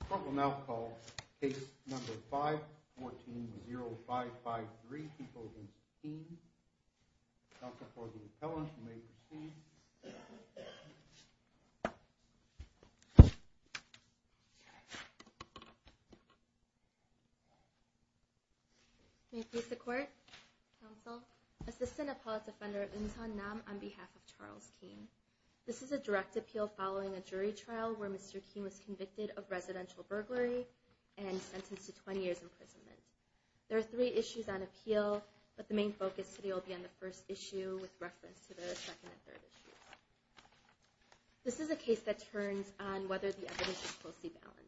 The court will now call Case No. 5-14-0553, deposing Keane. Counsel for the appellant, you may proceed. May it please the Court, Counsel. Assistant Appellate Defender Eun Sun Nam on behalf of Charles Keane. This is a direct appeal following a jury trial where Mr. Keane was convicted of residential burglary and sentenced to 20 years imprisonment. There are three issues on appeal, but the main focus today will be on the first issue with reference to the second and third issues. This is a case that turns on whether the evidence is closely balanced.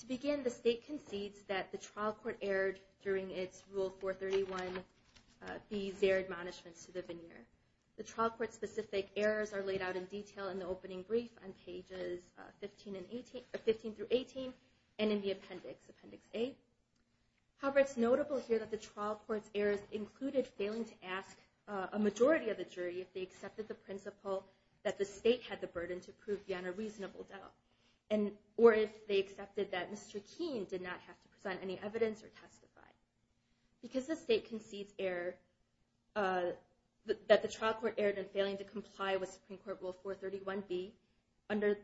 To begin, the State concedes that the trial court erred during its Rule 431 be their admonishments to the veneer. The trial court's specific errors are laid out in detail in the opening brief on pages 15-18 and in the appendix, Appendix A. However, it's notable here that the trial court's errors included failing to ask a majority of the jury if they accepted the principle that the State had the burden to prove beyond a reasonable doubt, or if they accepted that Mr. Keane did not have to present any evidence or testify. Because the State concedes error, that the trial court erred in failing to comply with Supreme Court Rule 431-B under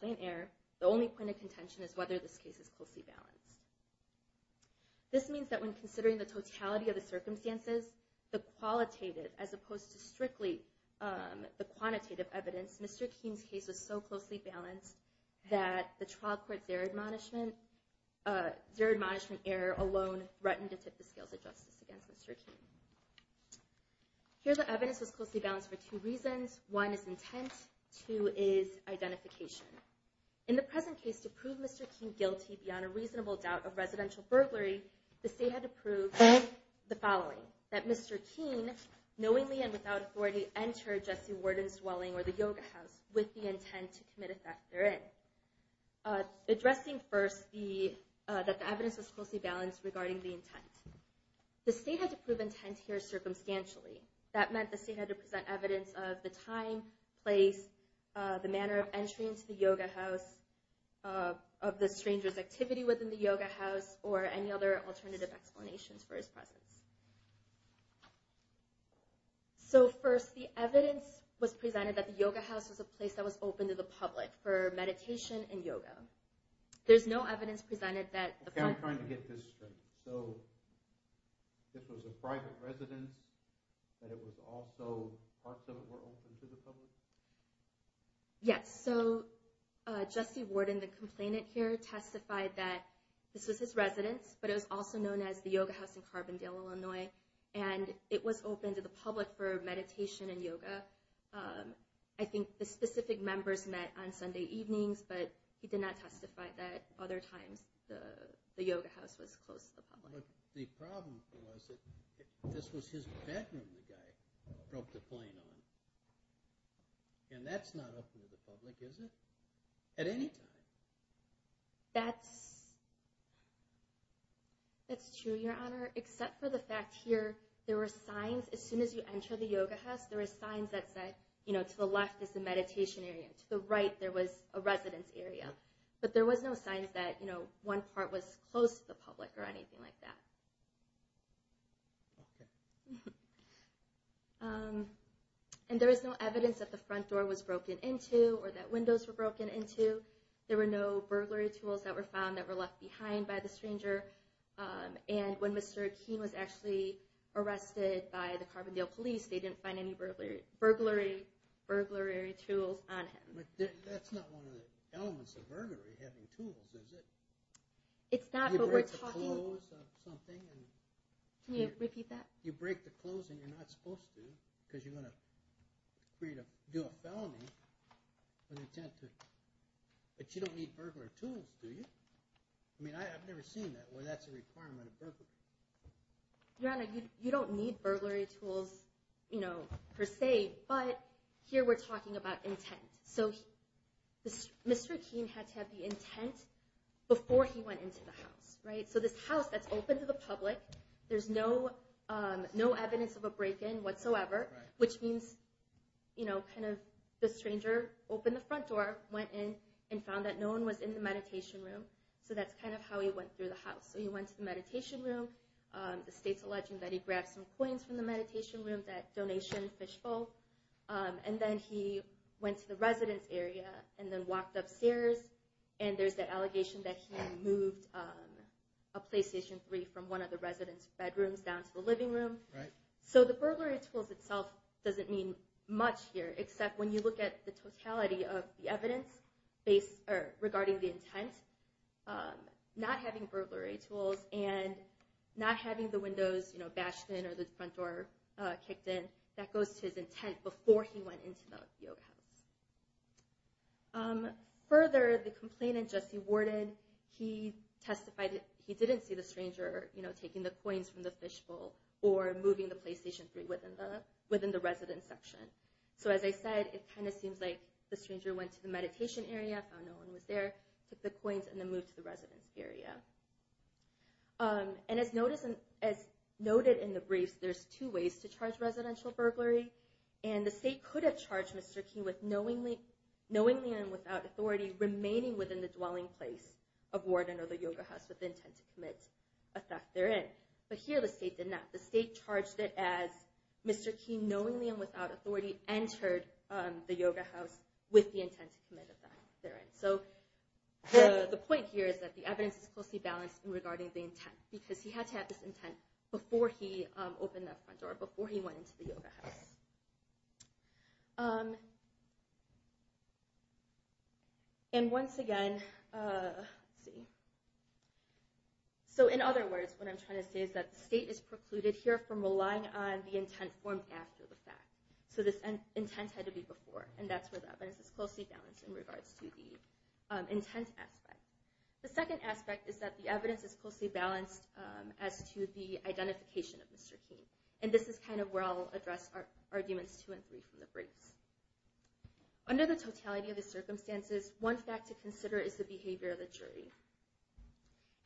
plain error, the only point of contention is whether this case is closely balanced. This means that when considering the totality of the circumstances, the qualitative, as opposed to strictly the quantitative evidence, Mr. Keane's case was so closely balanced that the trial court's their admonishment error alone threatened to tip the scales of justice against Mr. Keane. Here the evidence was closely balanced for two reasons. One is intent. Two is identification. In the present case, to prove Mr. Keane guilty beyond a reasonable doubt of residential burglary, the State had to prove the following. That Mr. Keane, knowingly and without authority, entered Jesse Worden's dwelling or the Yoga House with the intent to commit a theft therein. Addressing first that the evidence was closely balanced regarding the intent. The State had to prove intent here circumstantially. That meant the State had to present evidence of the time, place, the manner of entry into the Yoga House, of the stranger's activity within the Yoga House, or any other alternative explanations for his presence. So first, the evidence was presented that the Yoga House was a place that was open to the public for meditation and yoga. There's no evidence presented that Okay, I'm trying to get this straight. So, this was a private residence, and it was also, parts of it were open to the public? Yes. So, Jesse Worden, the complainant here, testified that this was his residence, but it was also known as the Yoga House in Carbondale, Illinois, and it was open to the public for meditation and yoga. I think the specific members met on Sunday evenings, but he did not testify that other times the Yoga House was closed to the public. But the problem was that this was his bedroom the guy drove the plane on. And that's not open to the public, is it? At any time? That's true, Your Honor. Except for the fact here, there were signs, as soon as you enter the Yoga House, there were signs that said, you know, to the left is the meditation area, to the right there was a residence area. But there was no signs that, you know, one part was closed to the public or anything like that. And there was no evidence that the front door was broken into, or that windows were broken into. There were no burglary tools that were found that were left behind by the stranger. And when Mr. Keene was actually arrested by the Carbondale police, they didn't find any burglary tools on him. Your Honor, you don't need burglary tools, you know, per se, but here we're talking about intent. So Mr. Keene had to have the intent before he went into the house. So this house that's open to the public, there's no evidence of a break-in whatsoever, which means, you know, kind of the stranger opened the front door, went in, and found that no one was in the meditation room. So that's kind of how he went through the house. So he went to the meditation room, the state's alleging that he grabbed some coins from the meditation room, that and then he went to the residence area, and then walked upstairs, and there's the allegation that he moved a PlayStation 3 from one of the residence bedrooms down to the living room. So the burglary tools itself doesn't mean much here, except when you look at the totality of the evidence regarding the intent, not having burglary tools, and not having the windows, you know, bashed in or the front door kicked in, that goes to his intent before he went into the house. Further, the complainant, Jesse Worden, he testified that he didn't see the stranger taking the coins from the fishbowl or moving the PlayStation 3 within the residence section. So as I said, it kind of seems like the stranger went to the meditation area, found no one was there, took the coins, and then moved to the residence area. And as noted in the briefs, there's two ways to charge residential burglary, and the state could have charged Mr. Key with knowingly and without authority remaining within the dwelling place of Worden or the yoga house with the intent to commit a theft therein. But here the state did not. The state charged it as Mr. Key knowingly and without authority entered the yoga house with the intent to commit a theft therein. So the point here is that the evidence is closely balanced regarding the intent, because he had to have this evidence in that front door before he went into the yoga house. And once again, let's see, so in other words, what I'm trying to say is that the state is precluded here from relying on the intent formed after the fact. So this intent had to be before, and that's where the evidence is closely balanced in regards to the intent aspect. The second aspect is that the evidence is closely balanced as to the identification of Mr. Key. And this is kind of where I'll address arguments two and three from the briefs. Under the totality of the circumstances, one fact to consider is the behavior of the jury.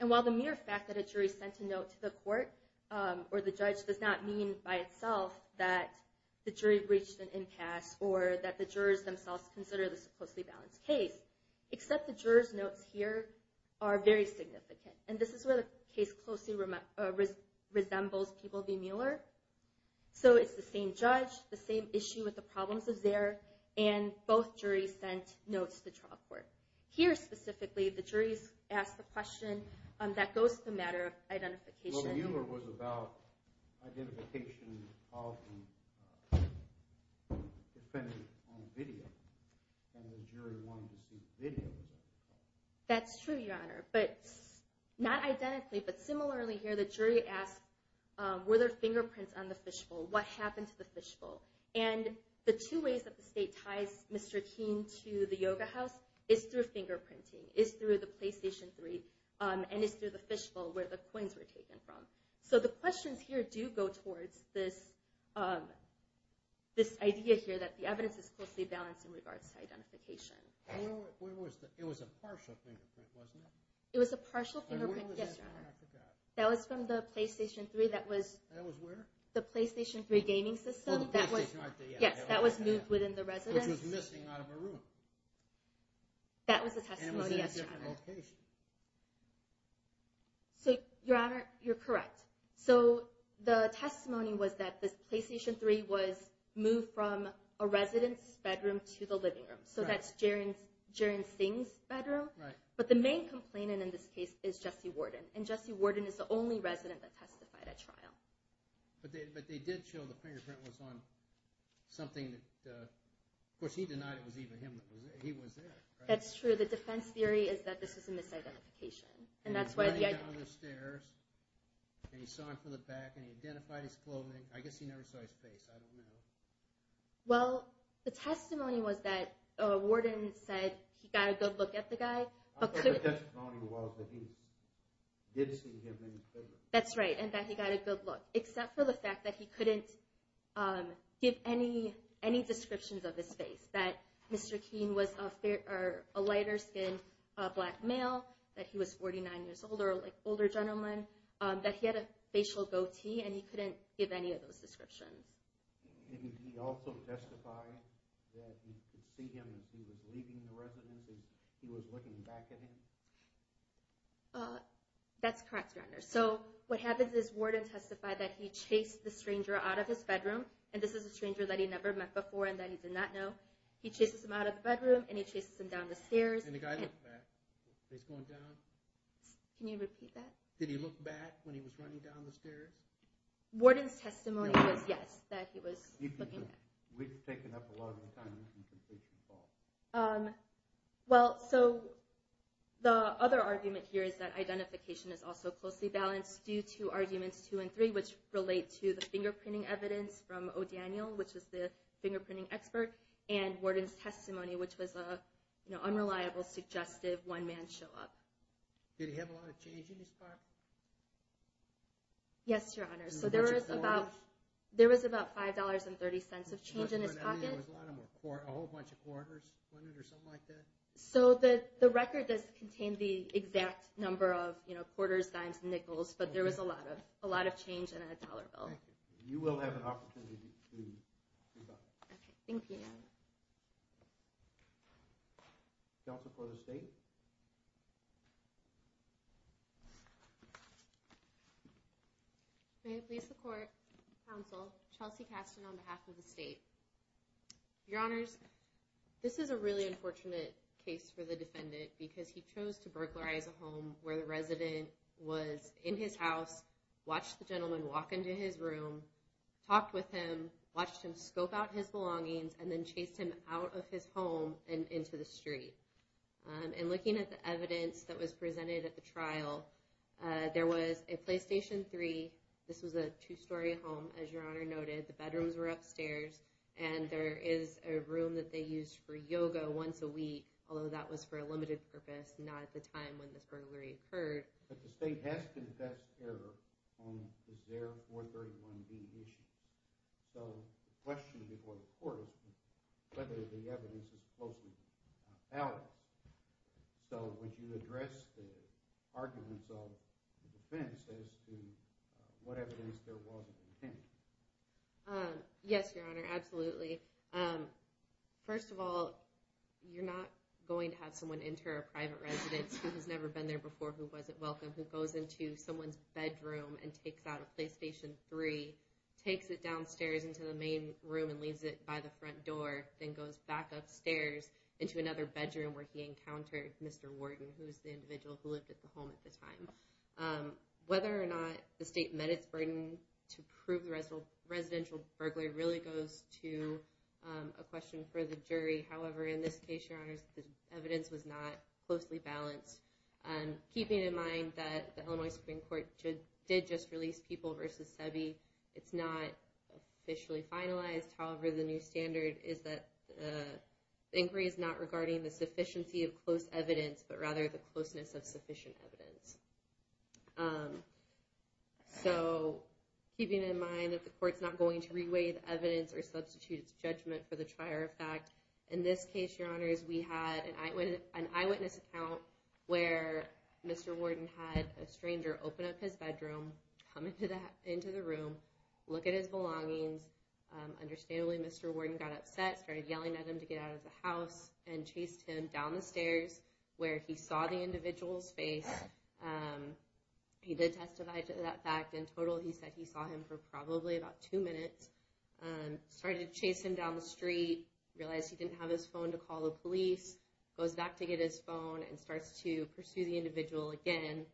And while the mere fact that a jury sent a note to the court or the judge does not mean by itself that the jury breached an impasse or that the jurors themselves consider this a closely balanced case, except the jurors' notes here are very significant. And this is where the case closely resembles People v. Mueller. So it's the same judge, the same issue with the problems is there, and both juries sent notes to the trial court. Here, specifically, the juries ask the question that goes to the matter of identification. Well, Mueller was about identification of him dependent on video. And the jury wanted to see video. That's true, Your Honor. But not identically, but similarly here, the jury asked were there fingerprints on the fishbowl? What happened to the fishbowl? And the two ways that the state ties Mr. Key to the Yoga House is through fingerprinting, is through the PlayStation 3, and is through the fishbowl, where the coins were taken from. So the questions here do go towards this idea here that the evidence is closely balanced in regards to identification. It was a partial fingerprint, wasn't it? It was a partial fingerprint, yes, Your Honor. That was from the PlayStation 3. That was where? The PlayStation 3 gaming system. Yes, that was moved within the residence. Which was missing out of a room. That was the testimony, yes, Your Honor. And was in a different location. So, Your Honor, you're correct. So the testimony was that the PlayStation 3 was moved from a residence bedroom to the living room. So that's Jaron Singh's bedroom. But the main complainant in this case is Jesse Worden. And Jesse Worden is the only resident that testified at trial. But they did show the fingerprint was on something that, of course, he denied it was even him that was there. He was there. That's true. The defense theory is that this was a misidentification. And that's why... He was running down the stairs, and he saw him from the back, and he identified his clothing. I guess he never saw his face. I don't know. Well, the testimony was that Worden said he got a good look at the guy. I thought the testimony was that he did see him in his bedroom. That's right. And that he got a good look. Except for the fact that he couldn't give any descriptions of his face. That Mr. Keene was a lighter skinned black male. That he was 49 years older, like older gentleman. That he had a facial goatee, and he couldn't give any of those descriptions. Did he also testify that he could see him as he was leaving the residence, as he was looking back at him? That's correct. So what happens is Worden testified that he chased the stranger out of his bedroom. And this is a stranger that he never met before and that he did not know. He chases him out of the bedroom, and he chases him down the stairs. And the guy looked back. He's going down. Can you repeat that? Did he look back when he was running down the stairs? Worden's testimony was yes, that he was looking back. We've taken up a lot of your time. You can take your call. Well, so the other argument here is that identification is also closely balanced due to arguments two and three, which relate to the fingerprinting evidence from O'Daniel, which was the fingerprinting expert. And Worden's testimony, which was an unreliable, suggestive one man show up. Did he have a lot of change in his car? Yes, Your Honor. So there was about five dollars and thirty cents of change in his pocket. A whole bunch of quarters or something like that? So the record does contain the exact number of quarters, dimes, and nickels, but there was a lot of change in a dollar bill. You will have an opportunity to rebut. Thank you. Delta, Florida State? Thank you. May the police support counsel Chelsea Kasten on behalf of the state. Your Honors, this is a really unfortunate case for the defendant because he chose to burglarize a home where the resident was in his house, watched the gentleman walk into his room, talked with him, watched him scope out his belongings, and then chased him out of his home and looking at the evidence that was presented at the trial, there was a Playstation 3, this was a two story home, as Your Honor noted, the bedrooms were upstairs, and there is a room that they used for yoga once a week, although that was for a limited purpose, not at the time when this burglary occurred. But the state has confessed error on their 431B issue. So the question before the court is whether the evidence is spoken out. So would you address the arguments of the defense as to what evidence there was of intent? Yes, Your Honor, absolutely. First of all, you're not going to have someone enter a private residence who has never been there before, who wasn't welcome, who goes into someone's bedroom and takes out a Playstation 3, takes it downstairs into the main room and leaves it by the front door, then goes back upstairs into another bedroom where he encountered Mr. Worden, who was the individual who lived at the home at the time. Whether or not the state met its burden to prove the residential burglary really goes to a question for the jury. However, in this case, Your Honor, the evidence was not closely balanced. Keeping in mind that the Illinois Supreme Court did just release People v. Sebi, it's not officially finalized. However, the new standard is that the inquiry is not regarding the sufficiency of close evidence, but rather the closeness of sufficient evidence. So, keeping in mind that the court's not going to re-weigh the evidence or substitute its judgment for the trier of fact, in this case, Your Honor, we had an eyewitness account where Mr. Worden had a stranger open up his bedroom, come into the room, look at his belongings. Understandably, Mr. Worden got upset, started yelling at him to get out of the house, and chased him down the stairs where he saw the individual's face. He did testify to that fact. In total, he said he saw him for probably about two minutes. Started to chase him down the street, realized he didn't have his phone to call the police, goes back to get his phone, and starts to pursue the individual again.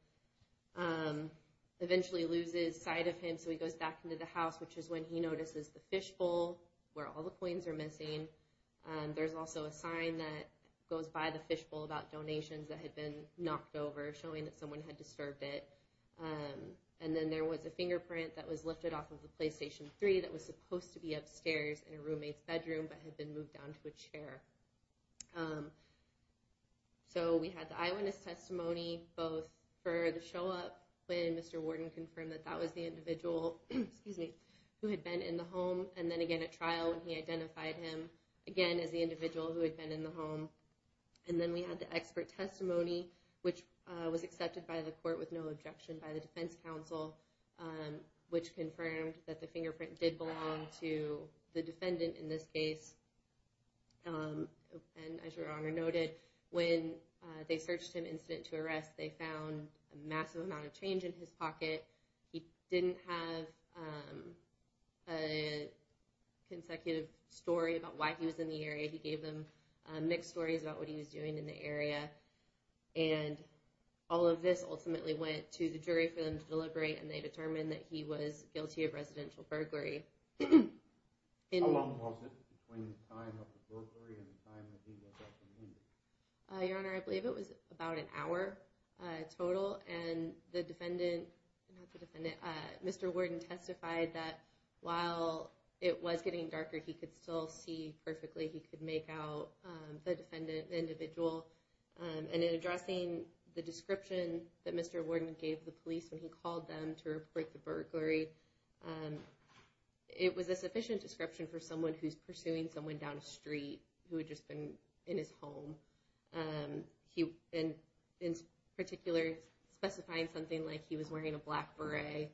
Eventually loses sight of him, so he goes back into the house, which is when he notices the fishbowl, where all the coins are missing. There's also a sign that goes by the fishbowl about donations that had been knocked over, showing that someone had disturbed it. And then there was a fingerprint that was lifted off of the PlayStation 3 that was supposed to be upstairs in a roommate's bedroom, but had been moved down to a chair. So, we had the eyewitness testimony, both for the show-up, when Mr. Warden confirmed that that was the individual who had been in the home, and then again at trial when he identified him, again, as the individual who had been in the home. And then we had the expert testimony, which was accepted by the court with no objection by the defense counsel, which confirmed that the fingerprint did belong to the defendant in this case. And as Your Honor noted, when they searched him incident to arrest, they found a massive amount of change in his pocket. He didn't have a consecutive story about why he was in the area. He gave them mixed stories about what he was doing in the area. And all of this, ultimately, went to the jury for them to deliberate, and they determined that he was guilty of residential burglary. How long was it between the time of the burglary and the time that he was arrested? Your Honor, I believe it was about an hour total. And the defendant, not the defendant, Mr. Warden testified that while it was getting darker, he could still see perfectly. He could make out the defendant individual. And in addressing the description that Mr. Warden gave the police when he called them to report the burglary, it was a sufficient description for someone who's pursuing someone down a street who had just been in his home. In particular, specifying something like he was wearing a black beret,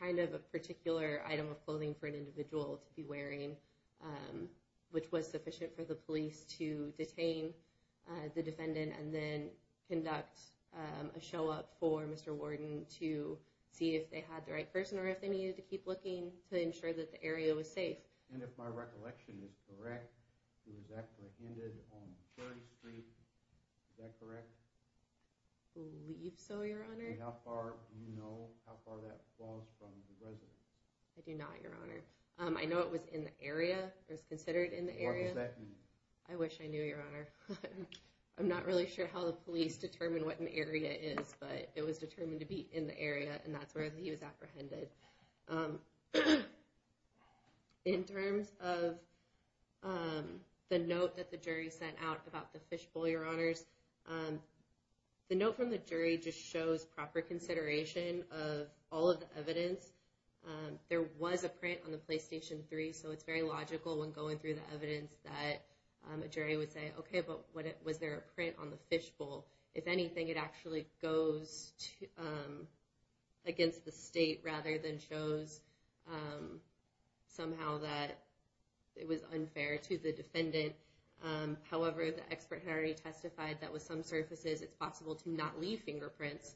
kind of a particular item of clothing for an individual to be wearing, which was sufficient for the police to detain the defendant and then conduct a show up for Mr. Warden to see if they had the right person or if they needed to keep looking to ensure that the area was safe. And if my recollection is correct, he was apprehended on Cherry Street. Is that correct? I believe so, Your Honor. And how far, do you know how far that falls from the residence? I do not, Your Honor. I know it was in the area. It was considered in the area. What does that mean? I wish I knew, Your Honor. I'm not really sure how the police determine what an area is, but it was determined to be in the area, and that's where he was apprehended. In terms of the note that the jury sent out about the fishbowl, Your Honors, the note from the jury just shows proper consideration of all of the evidence. There was a print on the PlayStation 3, so it's very logical when going through the evidence that a jury would say, okay, but was there a print on the fishbowl? If anything, it actually goes against the state, rather than shows somehow that it was unfair to the defendant. However, the expert had already testified that with some surfaces, it's possible to not leave fingerprints.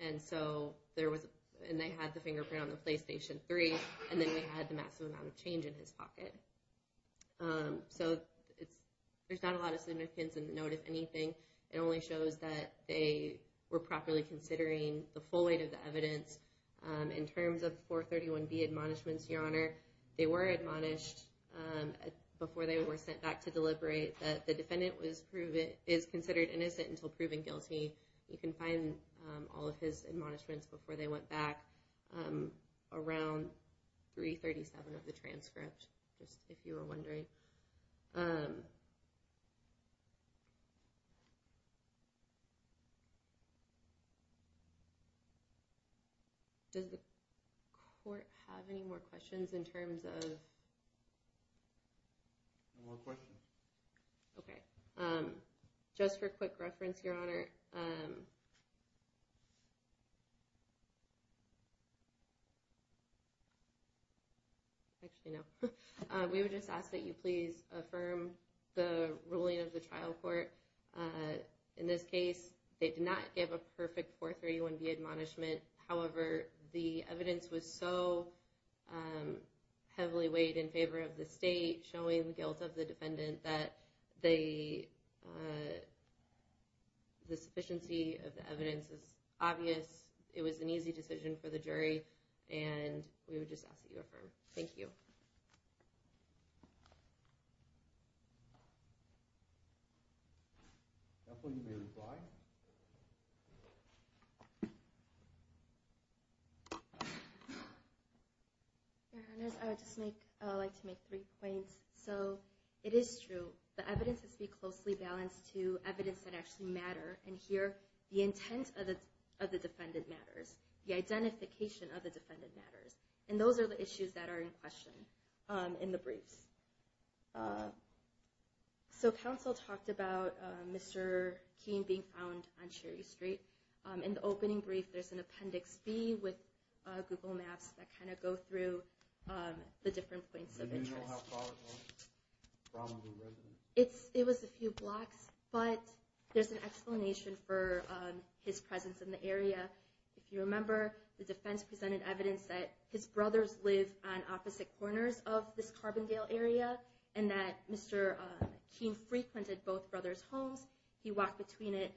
And so there was, and they had the fingerprint on the PlayStation 3, and then they had the maximum amount of change in his pocket. So there's not a lot of significance in the note, if anything. It only shows that they were properly considering the full weight of the evidence. In terms of 431B admonishments, Your Honor, they were admonished before they were sent back to deliberate that the defendant is considered innocent until proven guilty. You can find all of his admonishments before they went back around 337 of the transcript. Just if you were wondering. Okay. Does the court have any more questions in terms of... Okay. Just for quick reference, Your Honor, Actually, no. We would just ask that you please affirm the ruling of the trial court. In this case, they did not give a perfect 431B admonishment. However, the evidence was so heavily weighed in favor of the state showing the guilt of the defendant that the sufficiency of the evidence is obvious. It was an easy decision for the jury, and we would just ask that you affirm. Thank you. At this point, you may reply. Your Honor, I would just like to make three points. It is true. The evidence must be closely balanced to evidence that actually matters. Here, the intent of the defendant matters. The identification of the defendant matters. And those are the issues that are in question in the briefs. So counsel talked about Mr. Keene being found on Cherry Street. In the opening brief, there's an Appendix B with Google Maps that kind of go through the different points of interest. It was a few blocks, but there's an explanation for his presence in the area. If you remember, the defense presented evidence that his brothers live on opposite corners of this Carbondale area, and that Mr. Keene frequented both brothers' homes. He walked between it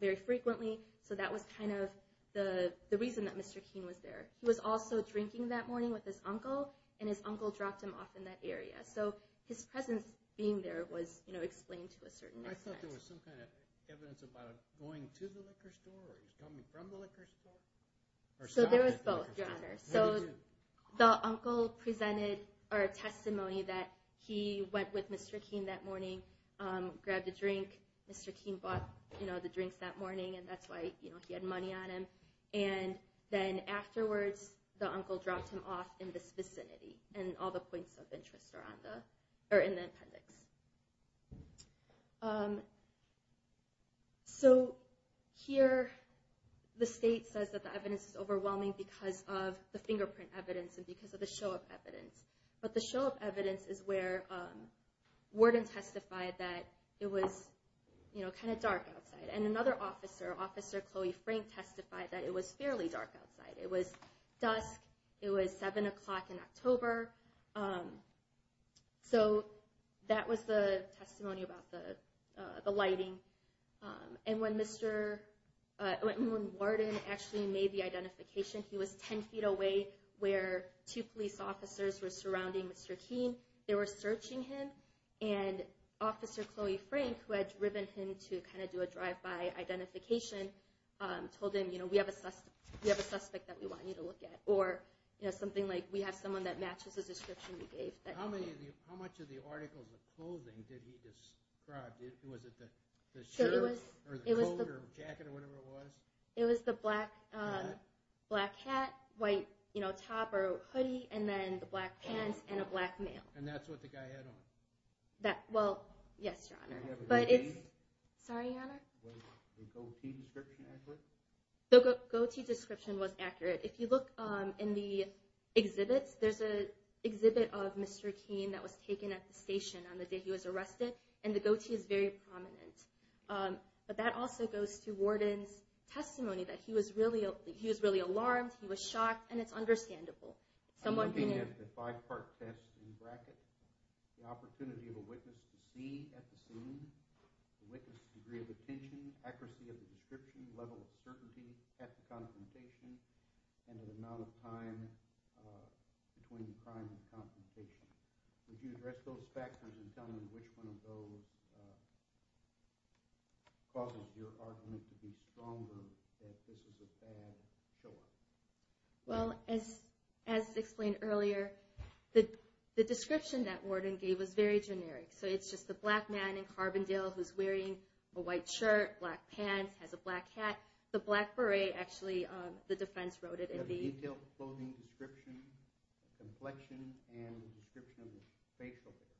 very frequently. So that was kind of the reason that Mr. Keene was there. He was also drinking that morning with his uncle, and his uncle dropped him off in that area. So his presence being there was explained to a certain extent. I thought there was some kind of evidence about him going to the liquor store, or coming from the liquor store? So there was both, Your Honor. The uncle presented a testimony that he went with Mr. Keene that morning, grabbed a drink. Mr. Keene bought the drinks that morning, and that's why he had money on him. And then afterwards, the uncle dropped him off in this vicinity, and all the points of interest are in the Appendix. So here, the state says that the evidence is overwhelming because of the fingerprint evidence, and because of the show of evidence. But the show of evidence is where Worden testified that it was kind of dark outside. And another officer, Officer Chloe Frank, testified that it was fairly dark outside. It was dusk. It was 7 o'clock in October. So that was the testimony about the lighting. And when Mr., when Worden actually made the identification, he was 10 feet away where two police officers were surrounding Mr. Keene. They were searching him, and Officer Chloe Frank, who had driven him to kind of do a drive-by identification, told him, you know, we have a suspect that we want you to look at. Or something like, we have someone that matches the description you gave. How much of the article of clothing did he describe? Was it the shirt, or the coat, or the jacket, or whatever it was? It was the black hat, white top or hoodie, and then the black pants and a black mail. And that's what the guy had on? Well, yes, Your Honor. Did he have a goatee? Sorry, Your Honor? Was the goatee description accurate? The goatee description was accurate. If you look in the exhibits, there's an exhibit of Mr. Keene that was taken at the station on the day he was arrested, and the goatee is very prominent. But that also goes to Worden's testimony, that he was really alarmed, he was shocked, and it's understandable. Someone............... Well, as explained earlier, the description that Worden gave was very generic. So it's just the black man in Carbondale who's wearing a white shirt, black pants, has a black hat. The black hat has a detailed clothing description, complexion, and description of his facial hair.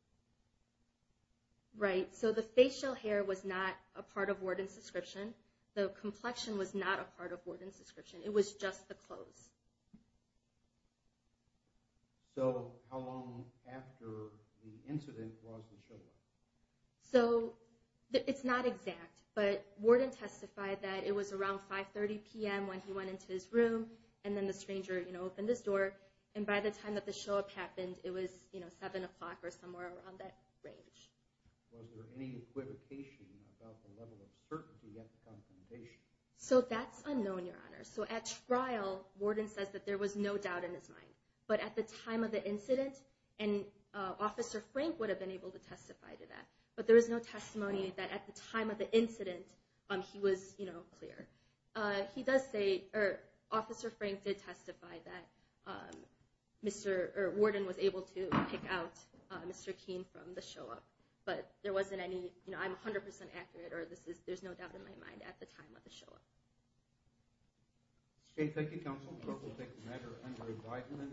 Right. So the facial hair was not a part of Worden's description. The complexion was not a part of Worden's description. It was just the clothes. So how long after the incident was the showdown? It's not exact, but Worden testified that it was around 5.30pm when he went into his room, and then the stranger opened his door, and by the time that the show up happened, it was 7 o'clock or somewhere around that range. Was there any equivocation about the level of certainty at the confirmation? So that's unknown, Your Honor. So at trial, Worden says that there was no doubt in his mind. But at the time of the incident, and Officer Frank would have been able to testify to that, but there was no testimony that at the time of the incident, he was clear. He does say, or Officer Frank did testify that Worden was able to pick out Mr. Keene from the show up. But there wasn't any, I'm 100% accurate, or there's no doubt in my mind at the time of the show up. Thank you, Counsel. We'll take a matter under indictment.